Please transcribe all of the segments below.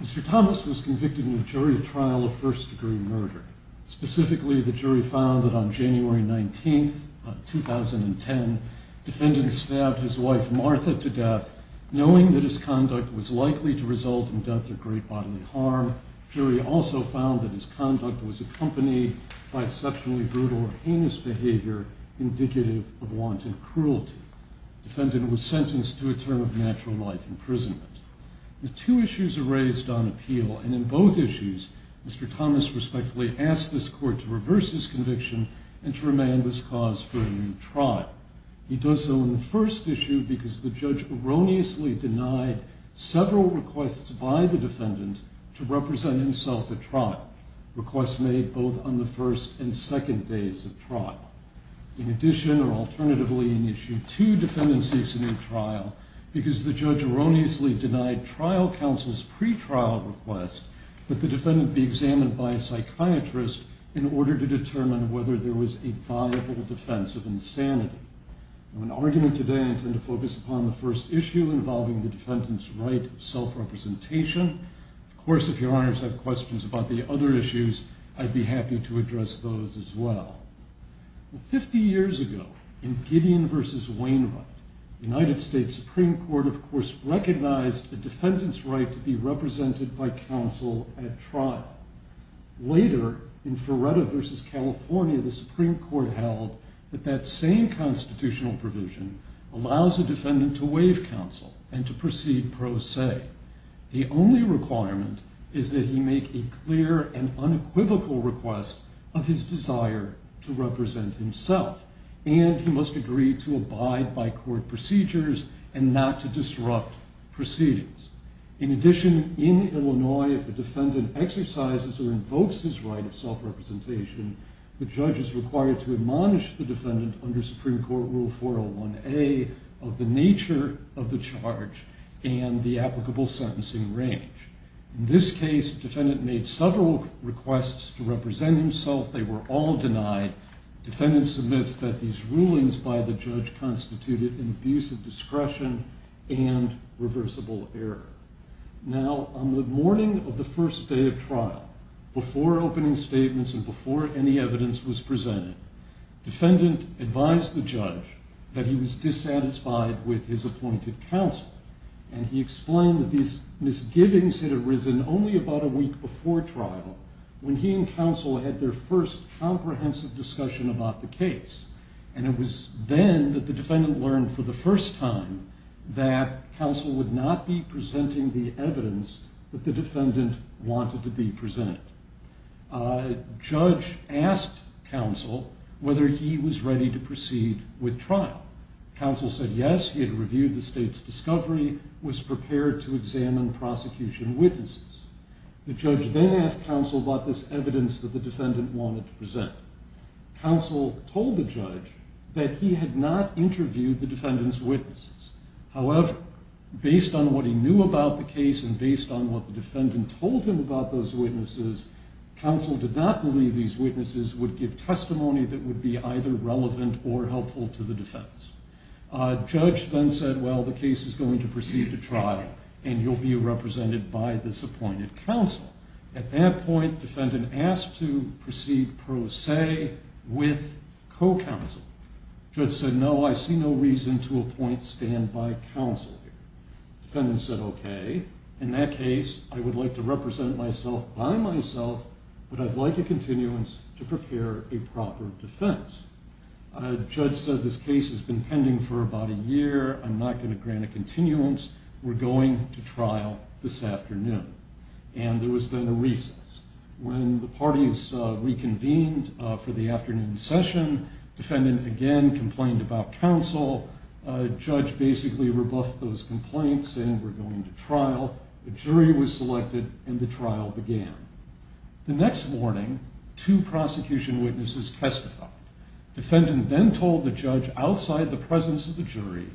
Mr. Thomas was convicted in a jury trial of first degree murder, specifically in the case found that on January 19, 2010, defendant stabbed his wife Martha to death, knowing that his conduct was likely to result in death or great bodily harm. Jury also found that his conduct was accompanied by exceptionally brutal or heinous behavior indicative of wanted cruelty. Defendant was sentenced to a term of natural life imprisonment. The two issues are raised on appeal, and in both issues Mr. Thomas respectfully asked this court to reverse his conviction and to remand this cause for a new trial. He does so in the first issue because the judge erroneously denied several requests by the defendant to represent himself at trial, requests made both on the first and second days of trial. In addition, or alternatively in issue two, defendant seeks a new trial because the judge erroneously denied trial counsel's pretrial request that the defendant be examined by a psychiatrist in order to determine whether there was a viable defense of insanity. In argument today, I intend to focus upon the first issue involving the defendant's right of self-representation. Of course, if your honors have questions about the other issues, I'd be happy to address those as well. Fifty years ago, in Gideon v. Wainwright, the United States Supreme Court, of course, recognized a defendant's right to be represented by counsel at trial. Later, in Ferretta v. California, the Supreme Court held that that same constitutional provision allows a defendant to waive counsel and to proceed pro se. The only requirement is that he make a clear and unequivocal request of his desire to represent himself, and he must agree to abide by court procedures and not to disrupt proceedings. In addition, in Illinois, if a defendant exercises or invokes his right of self-representation, the judge is required to admonish the defendant under Supreme Court Rule 401A of the nature of the charge and the applicable sentencing range. In this case, the defendant made several requests to represent himself. They were all in the use of discretion and reversible error. Now, on the morning of the first day of trial, before opening statements and before any evidence was presented, defendant advised the judge that he was dissatisfied with his appointed counsel, and he explained that these misgivings had arisen only about a week before trial, when he and counsel had their first comprehensive discussion about the case. And it was then that the defendant learned for the first time that counsel would not be presenting the evidence that the defendant wanted to be presented. Judge asked counsel whether he was ready to proceed with trial. Counsel said yes, he had reviewed the state's discovery, was prepared to examine prosecution witnesses. The judge then asked counsel about this evidence that the defendant wanted to present. Counsel told the judge that he had not interviewed the defendant's witnesses. However, based on what he knew about the case and based on what the defendant told him about those witnesses, counsel did not believe these witnesses would give testimony that would be either relevant or helpful to the defense. Judge then said, well, the case is going to proceed to trial, and you'll be represented by this appointed counsel. At that point, defendant asked to proceed pro se with co-counsel. Judge said, no, I see no reason to appoint standby counsel. Defendant said, okay, in that case, I would like to represent myself by myself, but I'd like a continuance to prepare a proper defense. Judge said, this case has been pending for about a year, I'm not going to grant a continuance, we're going to trial this afternoon. And there was then a recess. When the parties reconvened for the afternoon session, defendant again complained about counsel. Judge basically rebuffed those complaints and were going to trial. The jury was selected and the trial began. The next morning, two prosecution witnesses testified. Defendant then told the judge outside the presence of the jury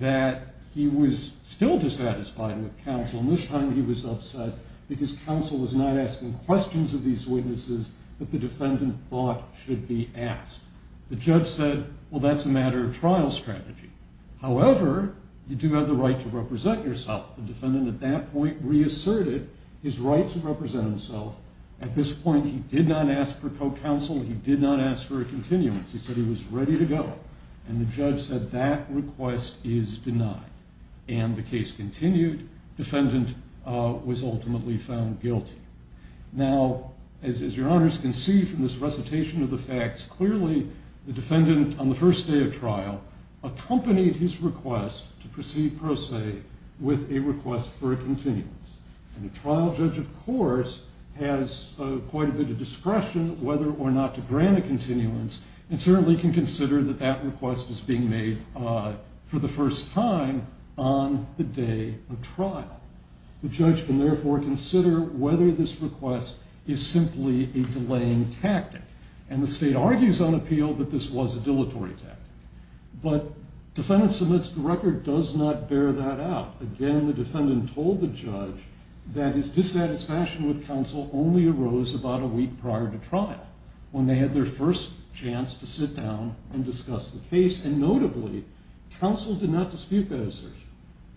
that he was still dissatisfied with counsel, and this time he was upset because counsel was not asking questions of these witnesses that the defendant thought should be asked. The judge said, well, that's a matter of trial strategy. However, you do have the right to represent yourself. The defendant at that point reasserted his right to represent himself. At this point, he did not ask for co-counsel, he did not ask for a continuance. He said he was ready to go. And the judge said, that request is denied. And the case continued. Defendant was ultimately found guilty. Now, as your honors can see from this recitation of the facts, clearly the defendant, on the first day of trial, accompanied his request to proceed pro se with a request for a continuance. And a trial judge, of course, has quite a bit of discretion whether or not to grant a continuance, and certainly can consider that that request was being made for the first time on the day of trial. The judge can therefore consider whether this request is simply a delaying tactic. And the state argues on appeal that this was a dilatory tactic. But defendant submits the record does not bear that out. Again, the defendant told the judge that his dissatisfaction with counsel only arose about a week prior to trial, when they had their first chance to sit down and discuss the case. And notably, counsel did not dispute that assertion.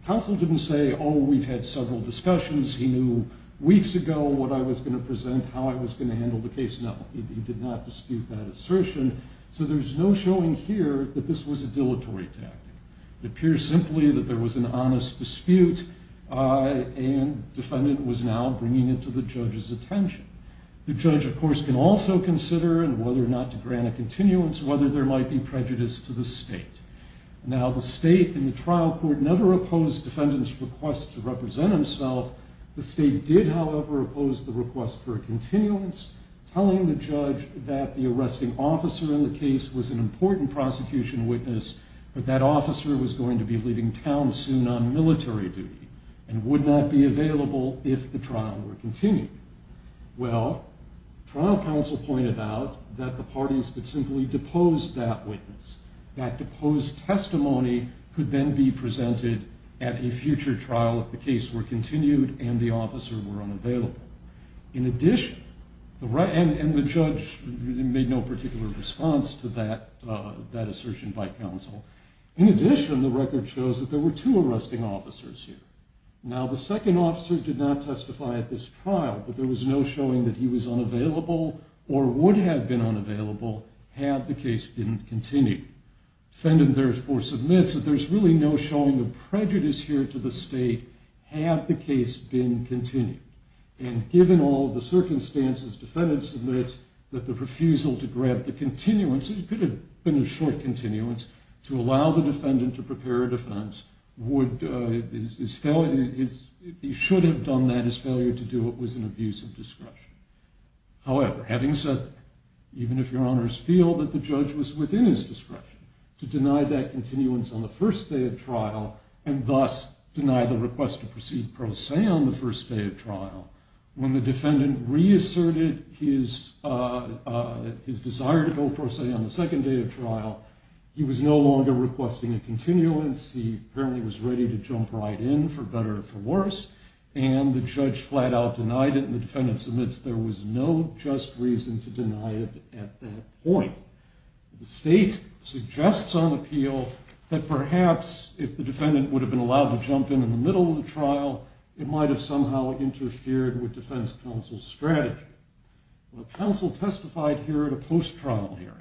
Counsel didn't say, oh, we've had several discussions, he knew weeks ago what I was going to present, how I was going to handle the case. No, he did not dispute that assertion. So there's no showing here that this was a dilatory tactic. It appears simply that there was an honest dispute, and defendant was now bringing it to the judge's attention. The judge, of course, can also consider whether or not to grant a continuance, whether there might be prejudice to the state. Now, the state and the trial court never opposed defendant's request to represent himself. The state did, however, oppose the request for a continuance, telling the judge that the arresting officer in the case was an important prosecution witness, but that officer was going to be leaving town soon on military duty, and would not be available if the trial were continued. Well, trial counsel pointed out that the parties could simply depose that witness. That deposed testimony could then be presented at a future trial if the case were continued and the officer were unavailable. In addition, and the judge made no particular response to that assertion by counsel, in addition, the record shows that there were two arresting officers here. Now, the second officer did not testify at this trial, but there was no showing that he was unavailable or would have been unavailable had the case been continued. Defendant therefore submits that there's really no showing of prejudice here to the state had the case been continued. And given all the circumstances, defendant submits that the refusal to grab the continuance, it could have been a short continuance, to allow the defendant to prepare a defense, he should have done that, his failure to do it was an abuse of discretion. However, having said that, even if your honors feel that the judge was within his discretion to deny that continuance on the first day of trial, and thus deny the request to proceed pro se on the first day of trial, when the defendant reasserted his desire to go pro se on the second day of trial, he was no longer requesting a continuance, he apparently was ready to jump right in, for better or for worse, and the judge flat out denied it, and the defendant submits there was no just reason to deny it at that point. The state suggests on appeal that perhaps if the defendant would have been allowed to jump in in the middle of the trial, it might have somehow interfered with defense counsel's strategy. Counsel testified here at a post-trial hearing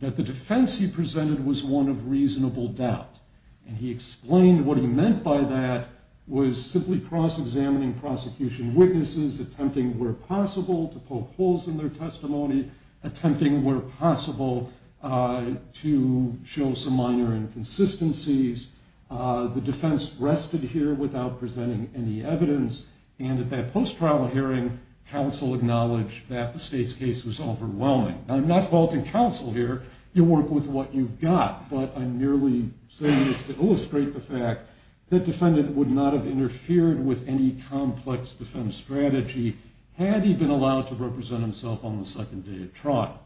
that the defense he presented was one of reasonable doubt, and he explained what he meant by that was simply cross-examining prosecution witnesses, attempting where possible to poke holes in their testimony, attempting where possible to show some minor inconsistencies. The defense rested here without presenting any evidence, and at that post-trial hearing, counsel acknowledged that the state's case was overwhelming. I'm not faulting counsel here, you work with what you've got, but I'm merely saying this to illustrate the fact that defendant would not have interfered with any complex defense strategy had he been allowed to represent himself on the second day of trial.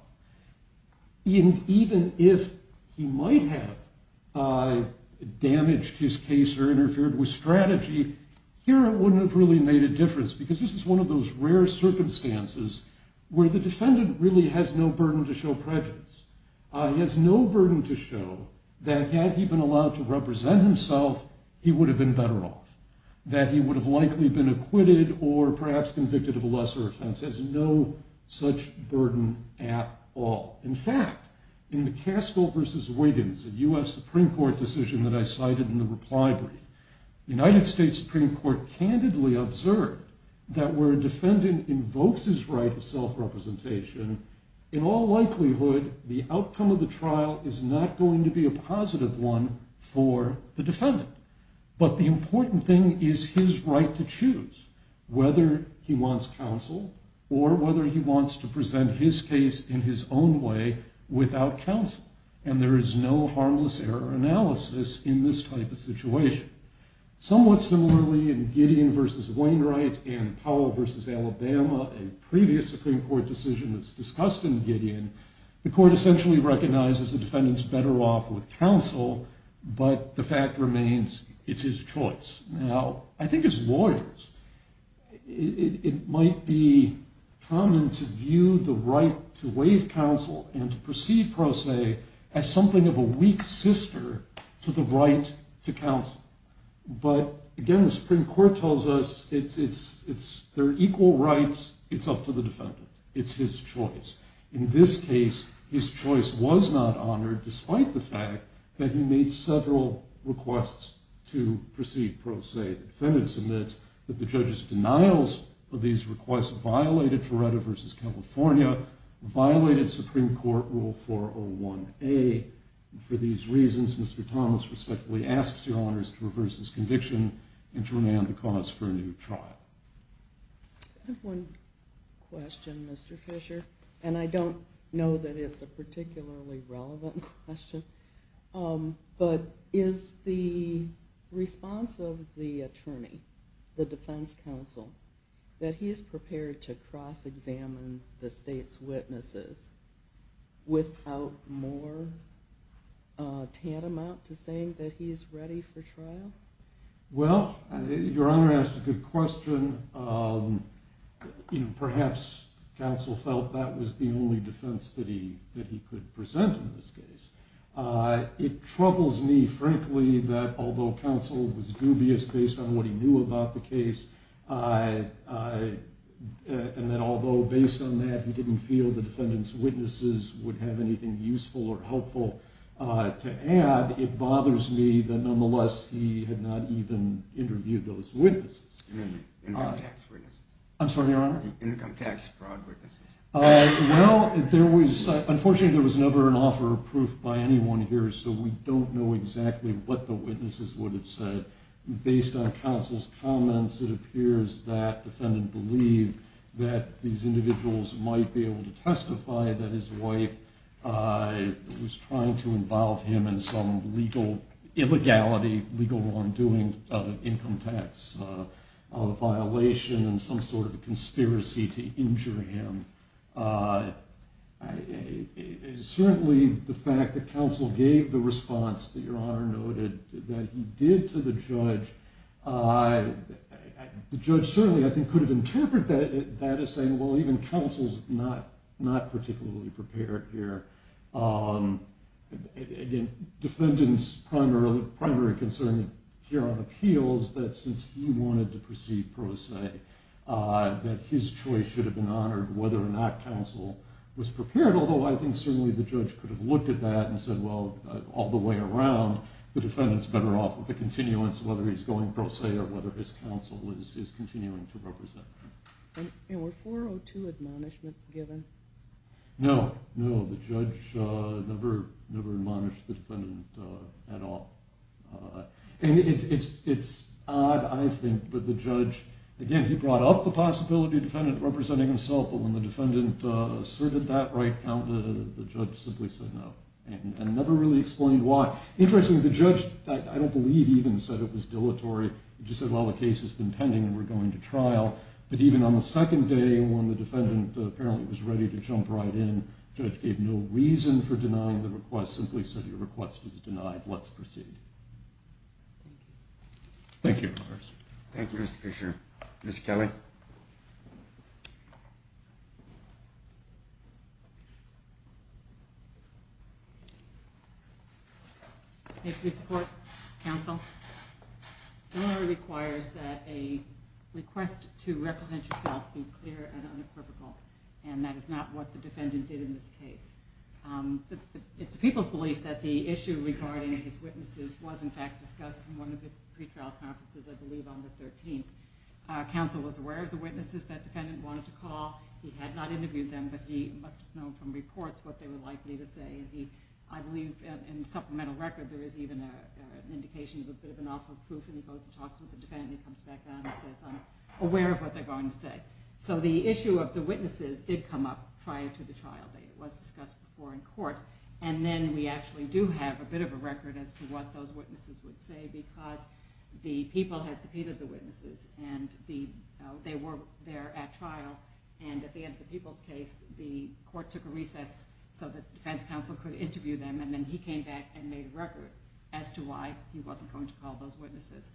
Even if he might have damaged his case or interfered with strategy, here it wouldn't have really made a difference because this is one of those rare circumstances where the defendant really has no burden to show prejudice. He has no burden to show that had he been allowed to represent himself, he would have been better off, that he would have likely been acquitted or perhaps convicted of a lesser offense. He has no such burden at all. In fact, in McCaskill v. Wiggins, a U.S. Supreme Court decision that I cited in the reply brief, the United States Supreme Court candidly observed that where a defendant invokes his right to self-representation, in all likelihood, the outcome of the trial is not going to be a positive one for the defendant. But the important thing is his right to choose whether he wants counsel or whether he wants to present his case in his own way without counsel. And there is no harmless error analysis in this type of situation. Somewhat similarly, in Gideon v. Wainwright and Powell v. Alabama, a previous Supreme Court decision that's discussed in Gideon, but the fact remains it's his choice. Now, I think as lawyers, it might be common to view the right to waive counsel and to proceed pro se as something of a weak sister to the right to counsel. But again, the Supreme Court tells us there are equal rights. It's up to the defendant. It's his choice. In this case, his choice was not honored despite the fact that he made several requests to proceed pro se. The defendant submits that the judge's denials of these requests violated Feretta v. California, violated Supreme Court Rule 401A. And for these reasons, Mr. Thomas respectfully asks your honors to reverse his conviction and to remand the cause for a new trial. I have one question, Mr. Fisher. And I don't know that it's a particularly relevant question. But is the response of the attorney, the defense counsel, that he's prepared to cross-examine the state's witnesses without more tantamount to saying that he's ready for trial? Well, your honor asked a good question. Perhaps counsel felt that was the only defense that he could present in this case. It troubles me, frankly, that although counsel was dubious based on what he knew about the case, and that although based on that he didn't feel the defendant's witnesses would have anything useful or helpful to add, it bothers me that nonetheless he had not even interviewed those witnesses. You mean the income tax witnesses? I'm sorry, your honor? The income tax fraud witnesses. Well, unfortunately there was never an offer of proof by anyone here, so we don't know exactly what the witnesses would have said. Based on counsel's comments, it appears that the defendant believed that these individuals might be able to testify that his wife was trying to involve him in some legal illegality, legal wrongdoing of an income tax violation and some sort of a conspiracy to injure him. Certainly the fact that counsel gave the response that your honor noted that he did to the judge, the judge certainly, I think, could have interpreted that as saying, well, even counsel's not particularly prepared here. Again, defendant's primary concern here on appeal is that since he wanted to proceed pro se, that his choice should have been honored whether or not counsel was prepared, although I think certainly the judge could have looked at that and said, well, all the way around, the defendant's better off with the continuance whether he's going pro se or whether his counsel is continuing to represent him. And were 402 admonishments given? No, no. The judge never admonished the defendant at all. And it's odd, I think, but the judge, again, he brought up the possibility of the defendant representing himself, but when the defendant asserted that right, the judge simply said no and never really explained why. Interestingly, the judge, I don't believe, even said it was dilatory. But even on the second day when the defendant apparently was ready to jump right in, the judge gave no reason for denying the request, simply said your request was denied. Let's proceed. Thank you. Thank you, Mr. Fisher. Ms. Kelly? May I please report, counsel? Dilatory requires that a request to represent yourself be clear and unequivocal, and that is not what the defendant did in this case. It's the people's belief that the issue regarding his witnesses was, in fact, discussed in one of the pretrial conferences, I believe, on the 13th. Counsel was aware of the witnesses that defendant wanted to call. He had not interviewed them, but he must have known from reports what they were likely to say. I believe in the supplemental record there is even an indication of a bit of an awful proof, and he goes and talks with the defendant, and he comes back down and says, I'm aware of what they're going to say. So the issue of the witnesses did come up prior to the trial date. It was discussed before in court. And then we actually do have a bit of a record as to what those witnesses would say because the people had subpoenaed the witnesses, and they were there at trial. And at the end of the people's case, the court took a recess so that the defense counsel could interview them, and then he came back and made a record as to why he wasn't going to call those witnesses.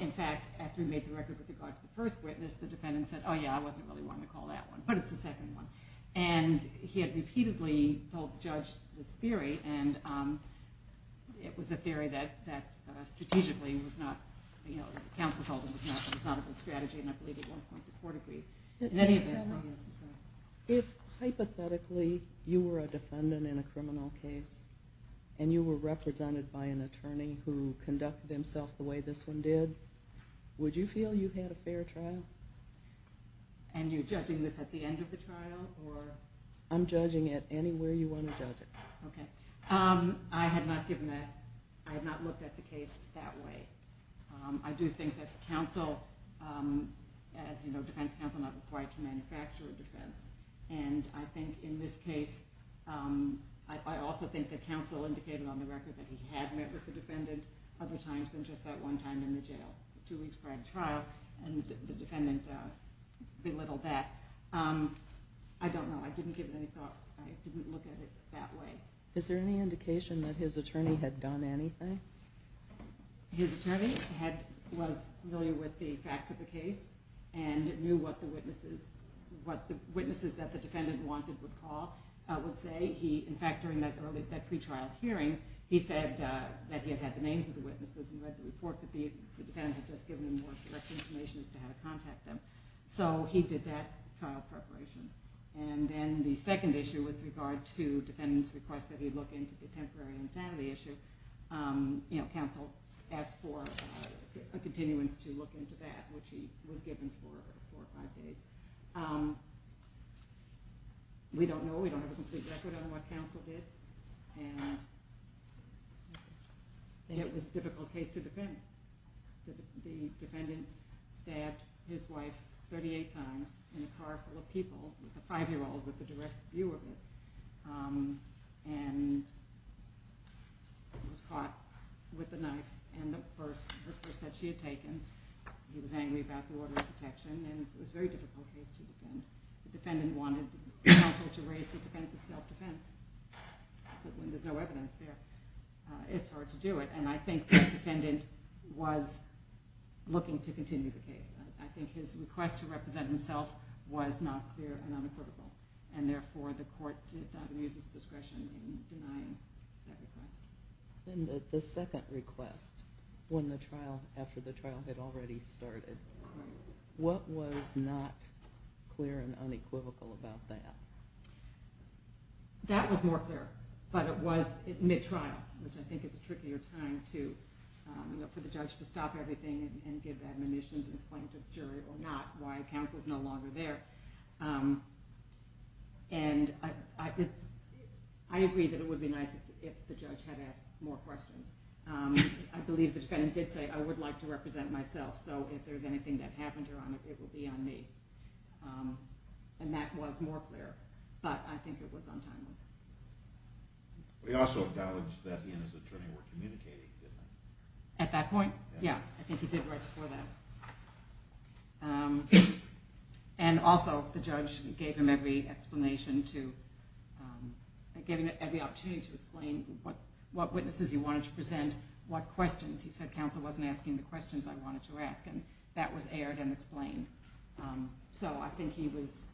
In fact, after he made the record with regard to the first witness, the defendant said, oh, yeah, I wasn't really wanting to call that one, but it's the second one. And he had repeatedly told the judge this theory, and it was a theory that strategically was not, you know, counsel told him it was not a good strategy, and I believe at one point the court agreed. Next panel. If hypothetically you were a defendant in a criminal case and you were represented by an attorney who conducted himself the way this one did, would you feel you had a fair trial? And you're judging this at the end of the trial? I'm judging it anywhere you want to judge it. Okay. I have not looked at the case that way. I do think that counsel, as you know, defense counsel are not required to manufacture a defense, and I think in this case I also think that counsel indicated on the record that he had met with the defendant other times than just that one time in the jail, two weeks prior to trial, and the defendant belittled that. I don't know. I didn't give it any thought. I didn't look at it that way. Is there any indication that his attorney had done anything? His attorney was familiar with the facts of the case and knew what the witnesses that the defendant wanted would say. In fact, during that pre-trial hearing, he said that he had had the names of the witnesses and read the report that the defendant had just given him more correct information as to how to contact them. So he did that trial preparation. And then the second issue with regard to defendant's request that he look into the temporary insanity issue, counsel asked for a continuance to look into that, which he was given for four or five days. We don't know. We don't have a complete record on what counsel did. It was a difficult case to defend. The defendant stabbed his wife 38 times in a car full of people, a five-year-old with a direct view of it, and was caught with a knife in the purse that she had taken. He was angry about the order of protection, and it was a very difficult case to defend. The defendant wanted counsel to raise the defense of self-defense, but when there's no evidence there, it's hard to do it. And I think the defendant was looking to continue the case. I think his request to represent himself was not clear and unequivocal, and therefore the court did not use its discretion in denying that request. Then the second request, after the trial had already started, what was not clear and unequivocal about that? That was more clear, but it was mid-trial, which I think is a trickier time for the judge to stop everything and give admonitions and explain to the jury or not why counsel is no longer there. And I agree that it would be nice if the judge had asked more questions. I believe the defendant did say, I would like to represent myself, so if there's anything that happened, it will be on me. And that was more clear, but I think it was untimely. We also acknowledged that he and his attorney were communicating, didn't they? At that point? Yeah, I think he did right before that. And also the judge gave him every explanation to, gave him every opportunity to explain what witnesses he wanted to present, what questions. He said counsel wasn't asking the questions I wanted to ask, and that was aired and explained. So I think he was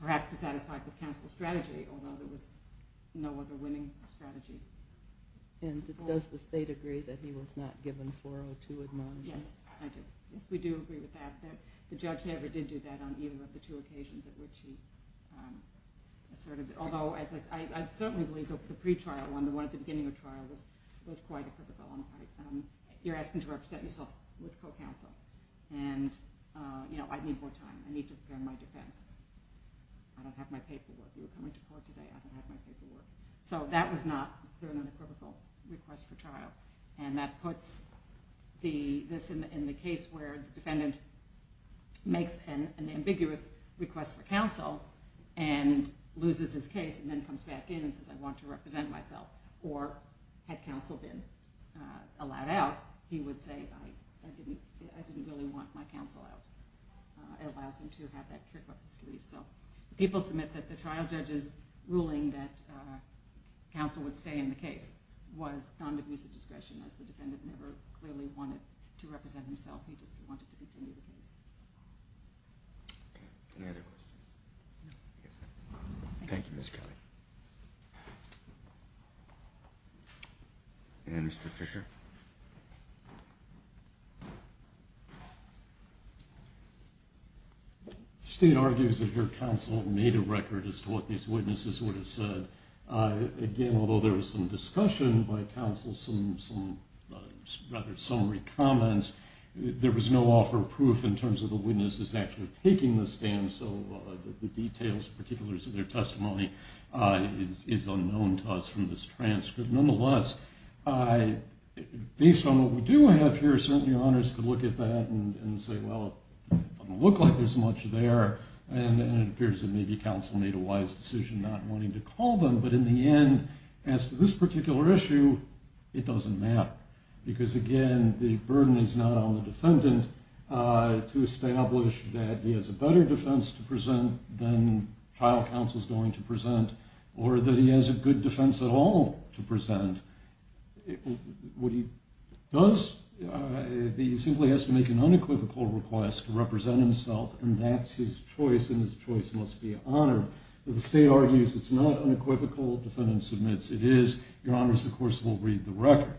perhaps dissatisfied with counsel's strategy, although there was no other winning strategy. And does the state agree that he was not given 402 admonitions? Yes, I do. Yes, we do agree with that, that the judge never did do that on either of the two occasions at which he asserted. Although I certainly believe the pretrial one, the one at the beginning of trial, was quite a critical one. You're asking to represent yourself with co-counsel, and I need more time. I need to prepare my defense. I don't have my paperwork. You were coming to court today. I don't have my paperwork. So that was not an unequivocal request for trial, and that puts this in the case where the defendant makes an ambiguous request for counsel and loses his case and then comes back in and says, I want to represent myself. Or had counsel been allowed out, he would say, I didn't really want my counsel out. It allows him to have that trick up his sleeve. People submit that the trial judge's ruling that counsel would stay in the case was non-divusive discretion, as the defendant never clearly wanted to represent himself. He just wanted to continue the case. Any other questions? Thank you, Ms. Kelly. And Mr. Fisher? The state argues that your counsel made a record as to what these witnesses would have said. Again, although there was some discussion by counsel, some rather summary comments, there was no offer of proof in terms of the witnesses actually taking the stand, so the details, particulars of their testimony, is unknown to us from this transcript. Nonetheless, based on what we do have here, certainly honors could look at that and say, well, it doesn't look like there's much there, and it appears that maybe counsel made a wise decision not wanting to call them, but in the end, as to this particular issue, it doesn't matter. Because again, the burden is not on the defendant to establish that he has a better defense to present than trial counsel's going to present, or that he has a good defense at all to present. What he does, he simply has to make an unequivocal request to represent himself, and that's his choice, and his choice must be honored. The state argues it's not unequivocal. Defendant submits it is. Your honors, of course, will read the record.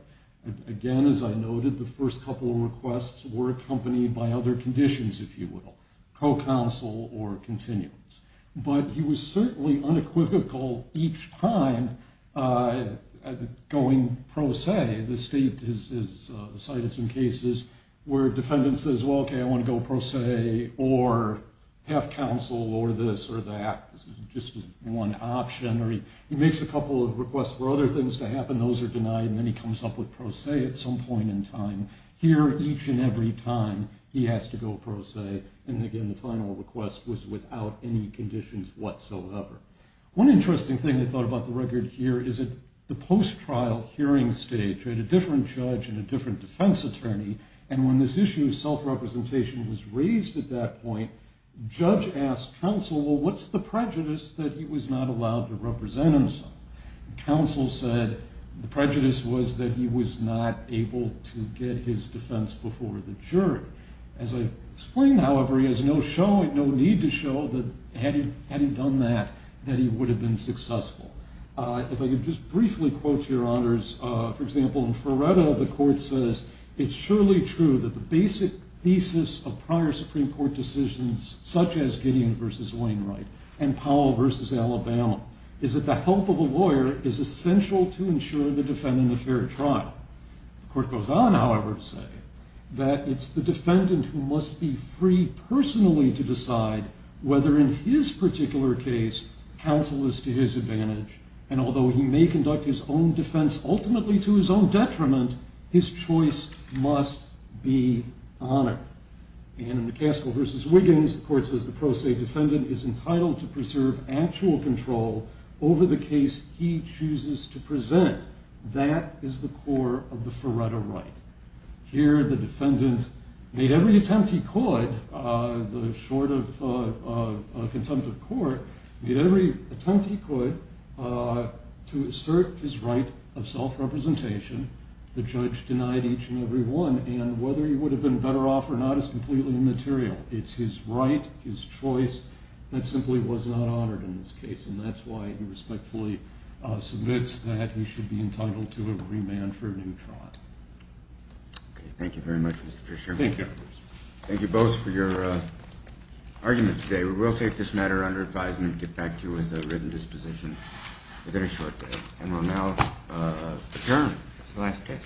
Again, as I noted, the first couple of requests were accompanied by other conditions, if you will, co-counsel or continuance. But he was certainly unequivocal each time going pro se. The state has cited some cases where a defendant says, well, okay, I want to go pro se, or have counsel, or this or that. This is just one option. He makes a couple of requests for other things to happen. Those are denied, and then he comes up with pro se at some point in time. Here, each and every time, he has to go pro se, and again, the final request was without any conditions whatsoever. One interesting thing I thought about the record here is that the post-trial hearing stage had a different judge and a different defense attorney, and when this issue of self-representation was raised at that point, judge asked counsel, well, what's the prejudice that he was not allowed to represent himself? Counsel said the prejudice was that he was not able to get his defense before the jury. As I explained, however, he has no need to show that had he done that, that he would have been successful. If I could just briefly quote your honors, for example, in Feretta, the court says, it's surely true that the basic thesis of prior Supreme Court decisions, such as Gideon versus Wainwright and Powell versus Alabama, is that the help of a lawyer is essential to ensure the defendant a fair trial. The court goes on, however, to say that it's the defendant who must be free personally to decide whether, in his particular case, counsel is to his advantage. And although he may conduct his own defense ultimately to his own detriment, his choice must be honored. And in McCaskill versus Wiggins, the court says the pro se defendant is entitled to preserve actual control over the case he chooses to present. That is the core of the Feretta right. Here, the defendant made every attempt he could, short of contempt of court, made every attempt he could to assert his right of self-representation. The judge denied each and every one. And whether he would have been better off or not is completely immaterial. It's his right, his choice, that simply was not honored in this case. And that's why he respectfully submits that he should be entitled to a remand for a new trial. Thank you very much, Mr. Fisher. Thank you. Thank you both for your argument today. We will take this matter under advisement and get back to you with a written disposition within a short day. And we'll now adjourn to the next case.